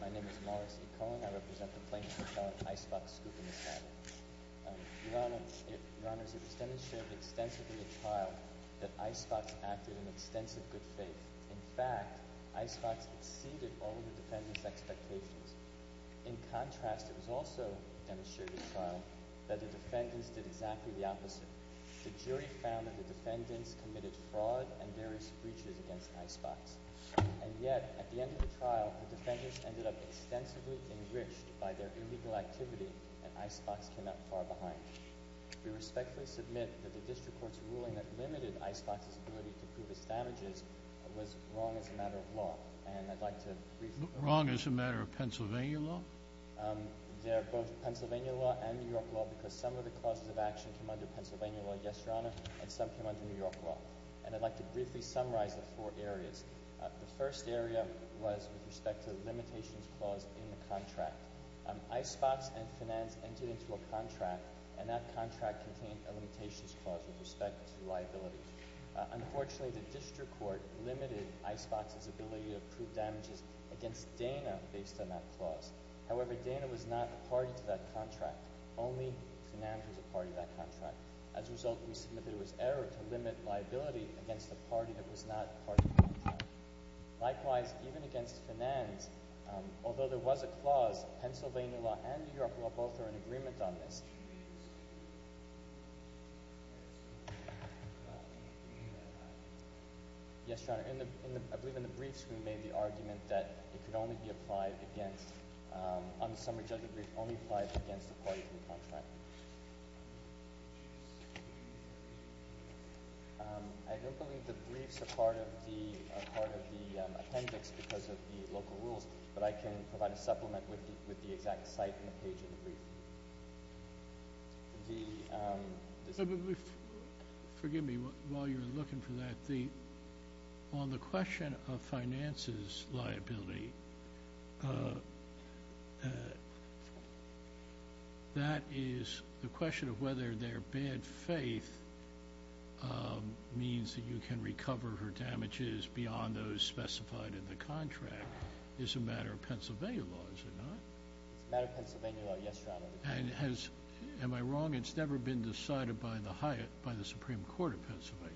My name is Morris E. Cohen. I represent the plaintiff in charge of Icebox-Scoops, Inc. Your Honor, it was demonstrated extensively at trial that Icebox acted in extensive good faith. In fact, Icebox exceeded all of the defendant's expectations. In contrast, it was also demonstrated at trial that the defendants did exactly the opposite. The jury found that the defendants committed fraud and various breaches against Icebox. And yet, at the end of the trial, the defendants ended up extensively enriched by their illegal activity, and Icebox came out far behind. We respectfully submit that the district court's ruling that limited Icebox's ability to prove its damages was wrong as a matter of law. And I'd like to briefly— Wrong as a matter of Pennsylvania law? They're both Pennsylvania law and New York law because some of the causes of action came under Pennsylvania law, yes, Your Honor, and some came under New York law. And I'd like to briefly summarize the four areas. The first area was with respect to the limitations clause in the contract. Icebox and Finanz entered into a contract, and that contract contained a limitations clause with respect to liability. Unfortunately, the district court limited Icebox's ability to prove damages against Dana based on that clause. However, Dana was not a party to that contract. Only Finanz was a party to that contract. As a result, we submit that it was error to limit liability against a party that was not a party to the contract. Likewise, even against Finanz, although there was a clause, Pennsylvania law and New York law both are in agreement on this. Yes, Your Honor, I believe in the briefs we made the argument that it could only be applied against—on the summary judgment brief, only applied against a party to the contract. I don't believe the briefs are part of the appendix because of the local rules, but I can provide a supplement with the exact site and the page of the brief. Forgive me while you're looking for that. On the question of Finanz's liability, that is the question of whether their bad faith means that you can recover her damages beyond those specified in the contract. It's a matter of Pennsylvania law, is it not? It's a matter of Pennsylvania law, yes, Your Honor. Am I wrong? It's never been decided by the Supreme Court of Pennsylvania.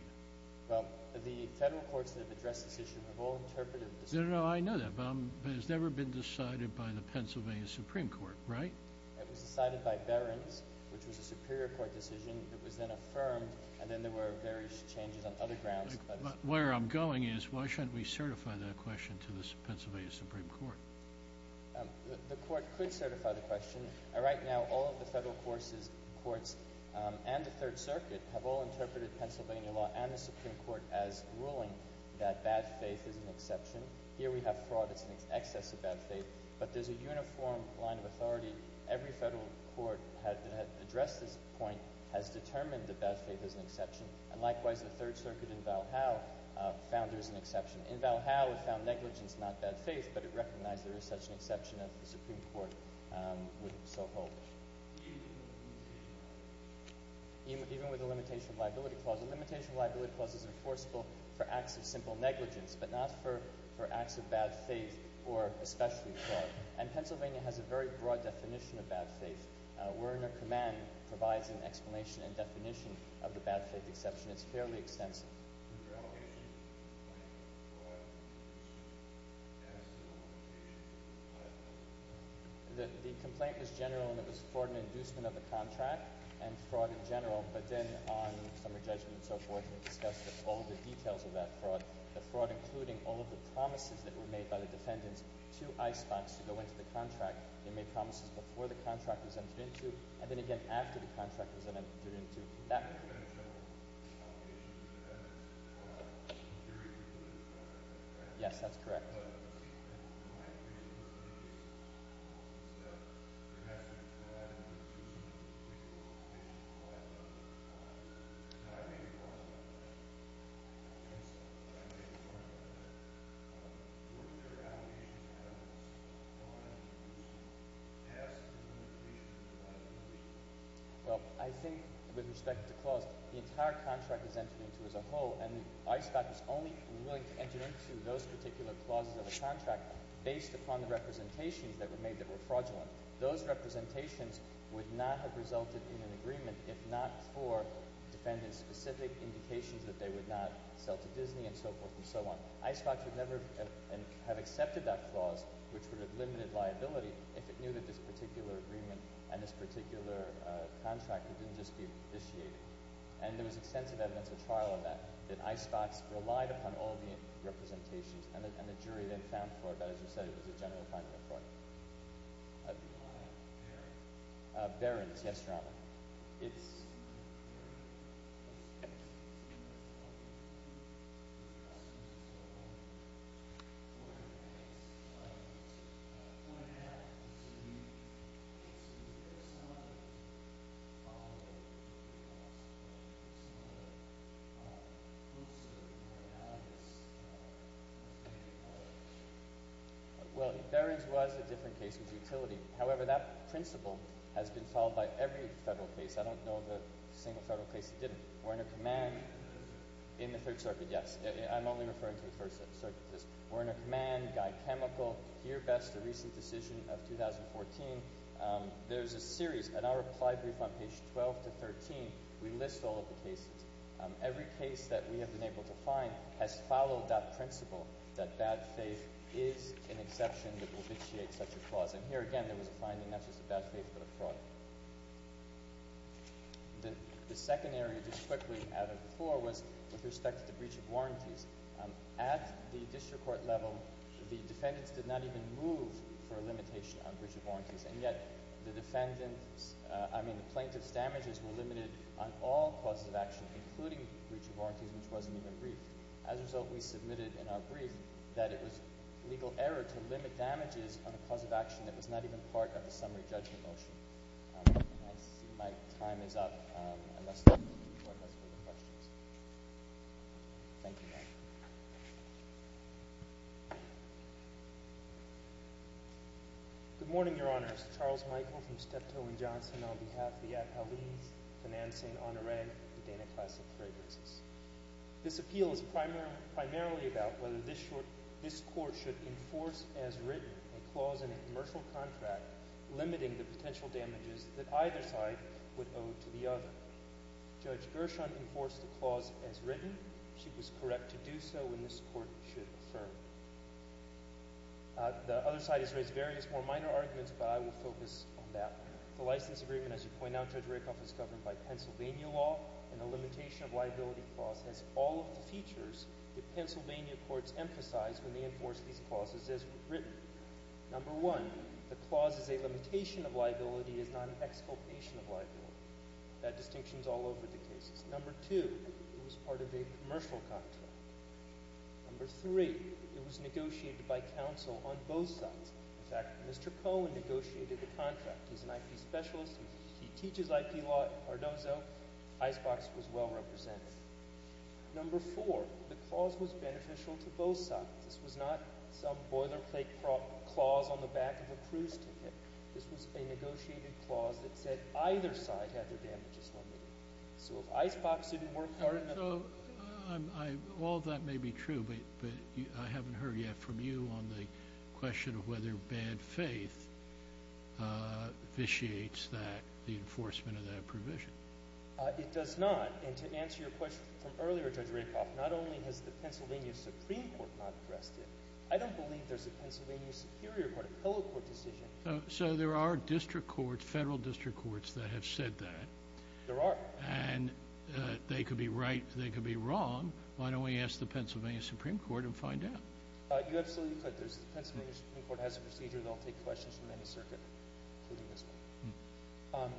Well, the federal courts that have addressed this issue have all interpreted— No, no, no, I know that, but it's never been decided by the Pennsylvania Supreme Court, right? It was decided by Behrens, which was a Superior Court decision. It was then affirmed, and then there were various changes on other grounds. Where I'm going is, why shouldn't we certify that question to the Pennsylvania Supreme Court? The Court could certify the question. Right now, all of the federal courts and the Third Circuit have all interpreted Pennsylvania law and the Supreme Court as ruling that bad faith is an exception. Here we have fraud. It's an excess of bad faith. But there's a uniform line of authority. Every federal court that has addressed this point has determined that bad faith is an exception. And likewise, the Third Circuit in Valhalla found there's an exception. In Valhalla, it found negligence, not bad faith, but it recognized there is such an exception as the Supreme Court would so hold. Even with a limitation of liability clause? Even with a limitation of liability clause. A limitation of liability clause is enforceable for acts of simple negligence, but not for acts of bad faith or especially fraud. And Pennsylvania has a very broad definition of bad faith. We're Under Command provides an explanation and definition of the bad faith exception. It's fairly extensive. If your allegation is a complaint of fraud, you should have a civil obligation to comply with the complaint. The complaint was general and it was fraud and inducement of the contract and fraud in general. But then on summer judgment and so forth, we discussed all of the details of that fraud. The fraud including all of the promises that were made by the defendants to ICEBOX to go into the contract. They made promises before the contract was entered into and then again after the contract was entered into. That's an exceptional obligation for the defendants to comply with the security rules of the contract. Yes, that's correct. But it seems that in my case, one of the most important steps, perhaps, is to add an inducement. It's a limitation of liability clause. And I made a point about that. I made a point about that. Weren't there allegations of negligence? No, I didn't use an inducement. Yes, there were limitations of liability. Well, I think with respect to clause, the entire contract was entered into as a whole. And ICEBOX was only willing to enter into those particular clauses of the contract based upon the representations that were made that were fraudulent. Those representations would not have resulted in an agreement if not for defendants' specific indications that they would not sell to Disney and so forth and so on. ICEBOX would never have accepted that clause, which would have limited liability, if it knew that this particular agreement and this particular contract didn't just be officiated. And there was extensive evidence at trial of that, that ICEBOX relied upon all the representations and the jury they found for it. But as you said, it was a general finding of fraud. Barrons. Barrons. Yes, Your Honor. It's— Well, Barrons was a different case with utility. However, that principle has been followed by every federal case. I don't know of a single federal case that didn't. We're under command— In the Third Circuit. In the Third Circuit, yes. I'm only referring to the First Circuit. We're under command, Guy Chemical, here best a recent decision of 2014. There's a series, and I'll reply briefly on page 12 to 13. We list all of the cases. Every case that we have been able to find has followed that principle, that bad faith is an exception that will vitiate such a clause. And here, again, there was a finding not just of bad faith but of fraud. The second area, just quickly, out of the floor, was with respect to the breach of warranties. At the district court level, the defendants did not even move for a limitation on breach of warranties. And yet the defendants—I mean the plaintiffs' damages were limited on all causes of action, including breach of warranties, which wasn't even briefed. As a result, we submitted in our brief that it was legal error to limit damages on a cause of action that was not even part of the summary judgment motion. I see my time is up, unless there are any more questions. Thank you. Good morning, Your Honors. Charles Michael from Steptoe & Johnson on behalf of the Appellees, Financing, Honoré, and Dana Classic Fragrances. This appeal is primarily about whether this Court should enforce as written a clause in a commercial contract limiting the potential damages that either side would owe to the other. Judge Gershon enforced the clause as written. She was correct to do so, and this Court should affirm. The other side has raised various more minor arguments, but I will focus on that. The license agreement, as you point out, Judge Rakoff, is governed by Pennsylvania law, and the limitation of liability clause has all of the features that Pennsylvania courts emphasize when they enforce these clauses as written. Number one, the clause is a limitation of liability. It is not an exculpation of liability. That distinction is all over the cases. Number two, it was part of a commercial contract. Number three, it was negotiated by counsel on both sides. In fact, Mr. Cohen negotiated the contract. He's an IP specialist. He teaches IP law at Ardozzo. Icebox was well represented. Number four, the clause was beneficial to both sides. This was not some boilerplate clause on the back of a cruise ticket. This was a negotiated clause that said either side had their damages limited. All of that may be true, but I haven't heard yet from you on the question of whether bad faith vitiates the enforcement of that provision. It does not. And to answer your question from earlier, Judge Rakoff, not only has the Pennsylvania Supreme Court not addressed it, I don't believe there's a Pennsylvania Superior Court, a pillow court decision. So there are district courts, federal district courts that have said that. There are. And they could be right, they could be wrong. Why don't we ask the Pennsylvania Supreme Court and find out? You absolutely could. The Pennsylvania Supreme Court has a procedure. They'll take questions from any circuit, including this one.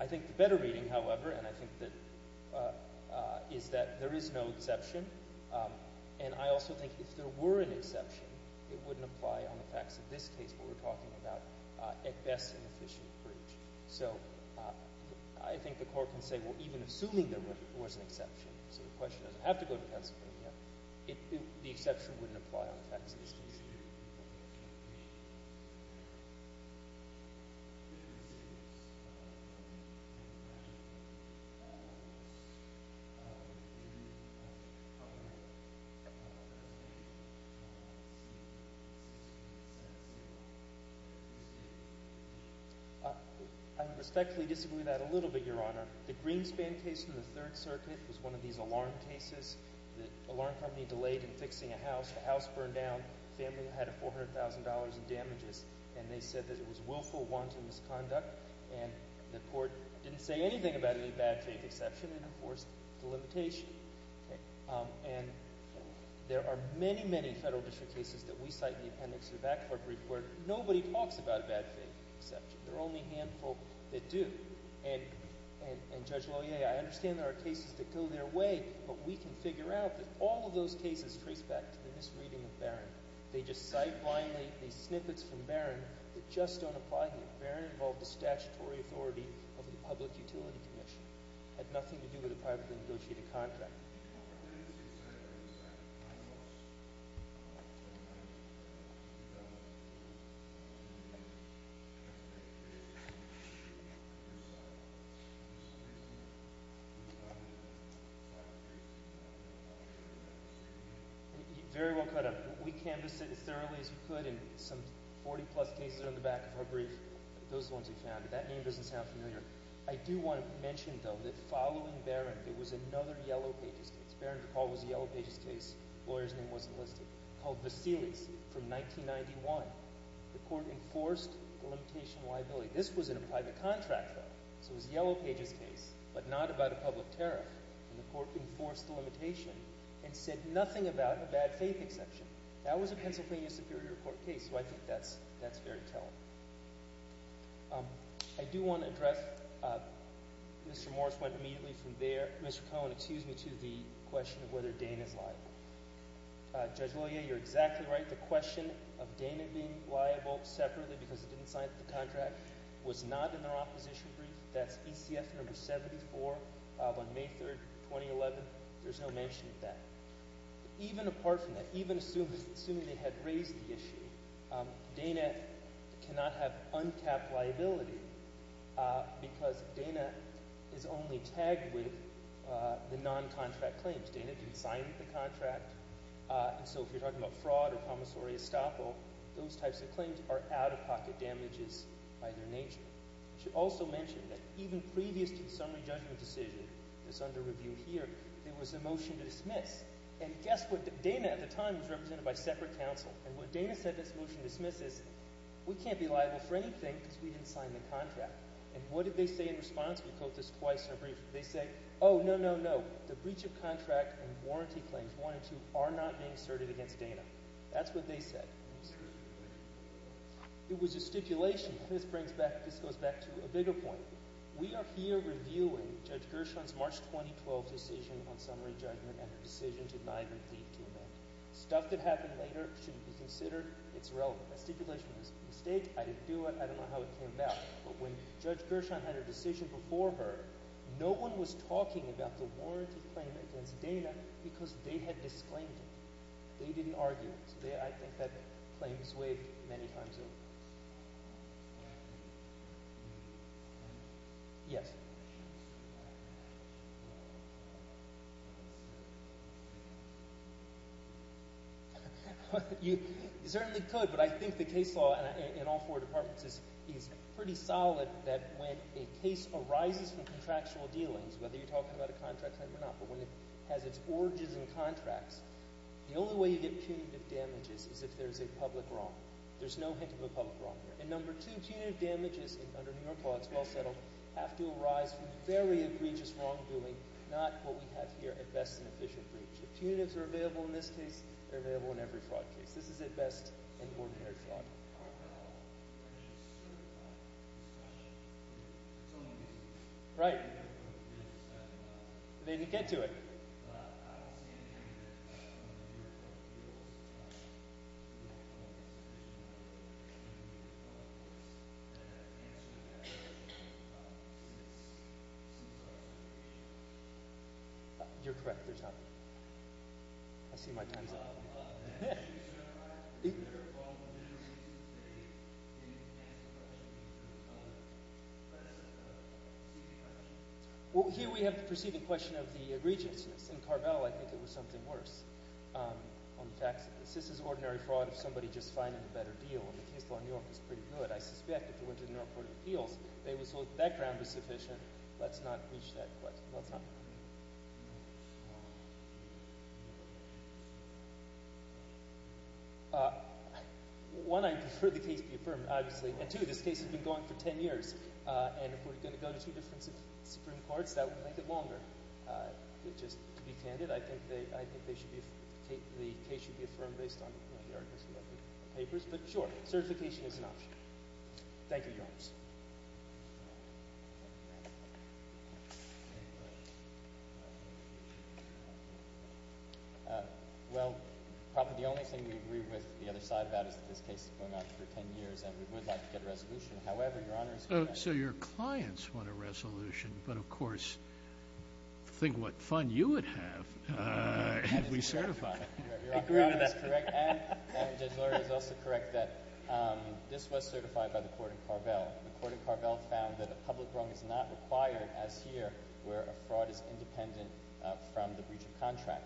I think the better reading, however, and I think that is that there is no exception. And I also think if there were an exception, it wouldn't apply on the facts of this case, what we're talking about, at best an efficient breach. So I think the court can say, well, even assuming there was an exception, so the question doesn't have to go to Pennsylvania, the exception wouldn't apply on the facts of this case. I respectfully disagree with that a little bit, Your Honor. The Greenspan case in the Third Circuit was one of these alarm cases. The alarm company delayed in fixing a house. The house burned down. The family had $400,000 in damages. And they said that it was willful, wanton misconduct. And the court didn't say anything about any bad faith exception. It enforced the limitation. And there are many, many federal district cases that we cite in the appendix to the back court brief where nobody talks about a bad faith exception. There are only a handful that do. And Judge Loyer, I understand there are cases that go their way, but we can figure out that all of those cases trace back to the misreading of Barron. They just cite blindly these snippets from Barron that just don't apply here. Barron involved the statutory authority of the Public Utility Commission. It had nothing to do with a privately negotiated contract. I do want to mention, though, that following Barron, there was another yellow paper. Barron DePaul was a yellow pages case. Loyer's name wasn't listed. Called Vassilis from 1991. The court enforced the limitation liability. This was in a private contract, though, so it was a yellow pages case, but not about a public tariff. And the court enforced the limitation and said nothing about a bad faith exception. That was a Pennsylvania Superior Court case, so I think that's fair to tell. I do want to address – Mr. Morris went immediately from there. Mr. Cohen, excuse me, to the question of whether Dana is liable. Judge Loyer, you're exactly right. The question of Dana being liable separately because it didn't cite the contract was not in their opposition brief. That's ECF number 74 on May 3, 2011. There's no mention of that. Even apart from that, even assuming they had raised the issue, Dana cannot have untapped liability because Dana is only tagged with the non-contract claims. Dana didn't sign the contract, and so if you're talking about fraud or commissory estoppel, those types of claims are out-of-pocket damages by their nature. I should also mention that even previous to the summary judgment decision that's under review here, there was a motion to dismiss, and guess what? Dana at the time was represented by separate counsel, and what Dana said in this motion to dismiss is we can't be liable for anything because we didn't sign the contract. And what did they say in response? We quote this twice in our brief. They say, oh, no, no, no. The breach of contract and warranty claims 1 and 2 are not being asserted against Dana. That's what they said. It was a stipulation, and this brings back – this goes back to a bigger point. We are here reviewing Judge Gershon's March 2012 decision on summary judgment and her decision to not even plead to amend. Stuff that happened later shouldn't be considered. It's irrelevant. That stipulation was a mistake. I didn't do it. I don't know how it came about. But when Judge Gershon had her decision before her, no one was talking about the warranty claim against Dana because they had disclaimed it. They didn't argue it. I think that claim is waived many times over. Yes. You certainly could, but I think the case law in all four departments is pretty solid that when a case arises from contractual dealings, whether you're talking about a contract claim or not, but when it has its origins in contracts, the only way you get punitive damages is if there's a public wrong. There's no hint of a public wrong here. And number two, punitive damages under New York law, it's well settled, have to arise from very egregious wrongdoing, not what we have here at best an official breach. The punitives are available in this case. They're available in every fraud case. This is at best an ordinary fraud. Right. They didn't get to it. You're correct, there's not. I see my time's up. Well, here we have the preceding question of the egregiousness. In Carvel, I think it was something worse on the facts of this. This is ordinary fraud of somebody just finding a better deal, and the case law in New York is pretty good. I suspect if it went to the New York Court of Appeals, they would say, well, that ground is sufficient. Let's not reach that question. Let's not. One, I prefer the case be affirmed, obviously. And two, this case has been going for ten years. And if we're going to go to two different Supreme Courts, that would make it longer. Just to be candid, I think the case should be affirmed based on the arguments in the papers. But sure, certification is an option. Thank you, Your Honors. Well, probably the only thing we agree with the other side about is that this case has been going on for ten years, and we would like to get a resolution. However, Your Honors, So your clients want a resolution, but of course, think what fun you would have if we certified it. I agree with that. Your Honor, that is correct. And Judge Lurie is also correct that this was certified by the court in Carvel. The court in Carvel found that a public wrong is not required as here where a fraud is independent from the breach of contract.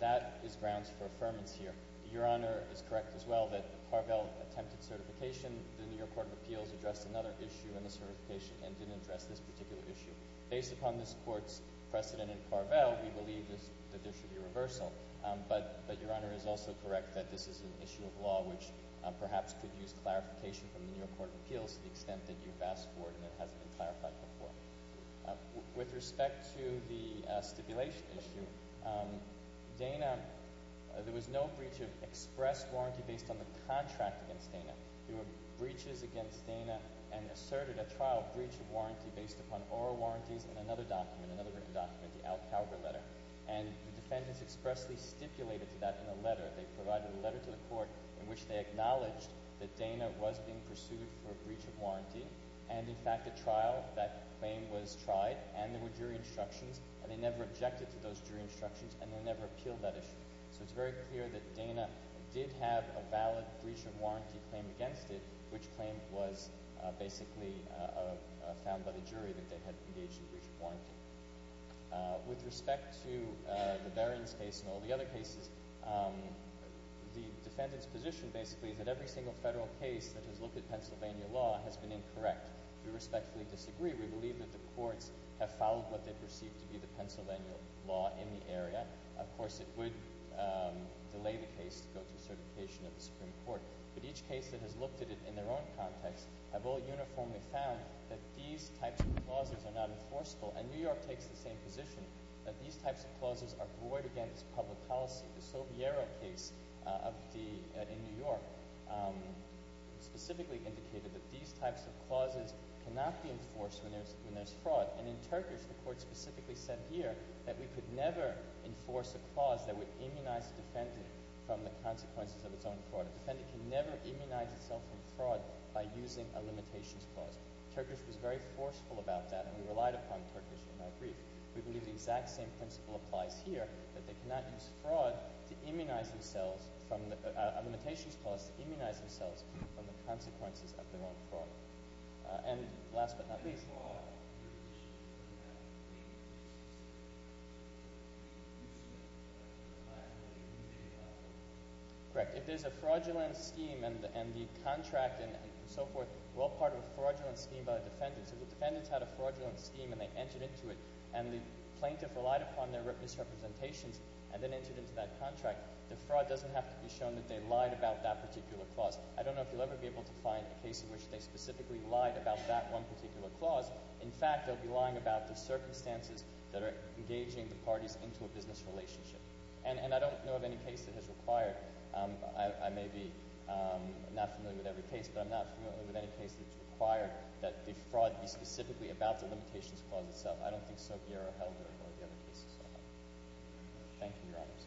That is grounds for affirmance here. Your Honor is correct as well that Carvel attempted certification. The New York Court of Appeals addressed another issue in the certification and didn't address this particular issue. Based upon this court's precedent in Carvel, we believe that there should be reversal. But Your Honor is also correct that this is an issue of law, which perhaps could use clarification from the New York Court of Appeals to the extent that you've asked for it and it hasn't been clarified before. With respect to the stipulation issue, Dana, there was no breach of express warranty based on the contract against Dana. There were breaches against Dana and asserted a trial breach of warranty based upon oral warranties and another document, another written document, the Alcalva letter. And the defendants expressly stipulated to that in a letter. They provided a letter to the court in which they acknowledged that Dana was being pursued for a breach of warranty. And, in fact, at trial that claim was tried and there were jury instructions. And they never objected to those jury instructions and they never appealed that issue. So it's very clear that Dana did have a valid breach of warranty claim against it, which claim was basically found by the jury that they had engaged in a breach of warranty. With respect to the Barron's case and all the other cases, the defendant's position basically is that every single federal case that has looked at Pennsylvania law has been incorrect. We respectfully disagree. We believe that the courts have followed what they perceive to be the Pennsylvania law in the area. And, of course, it would delay the case to go to certification of the Supreme Court. But each case that has looked at it in their own context have all uniformly found that these types of clauses are not enforceable. And New York takes the same position, that these types of clauses are void against public policy. The Soviero case in New York specifically indicated that these types of clauses cannot be enforced when there's fraud. And in Turkish, the court specifically said here that we could never enforce a clause that would immunize a defendant from the consequences of its own fraud. A defendant can never immunize itself from fraud by using a limitations clause. Turkish was very forceful about that, and we relied upon Turkish in our brief. We believe the exact same principle applies here, that they cannot use fraud to immunize themselves from – a limitations clause to immunize themselves from the consequences of their own fraud. And last but not least. If there's a fraudulent scheme and the contract and so forth, well, part of a fraudulent scheme by a defendant – so if a defendant's had a fraudulent scheme and they entered into it and the plaintiff relied upon their misrepresentations and then entered into that contract, the fraud doesn't have to be shown that they lied about that particular clause. I don't know if you'll ever be able to find a case in which they specifically lied about that one particular clause. In fact, they'll be lying about the circumstances that are engaging the parties into a business relationship. And I don't know of any case that has required – I may be not familiar with every case, but I'm not familiar with any case that's required that the fraud be specifically about the limitations clause itself. I don't think Soviero held very well the other cases. Thank you, Your Honors.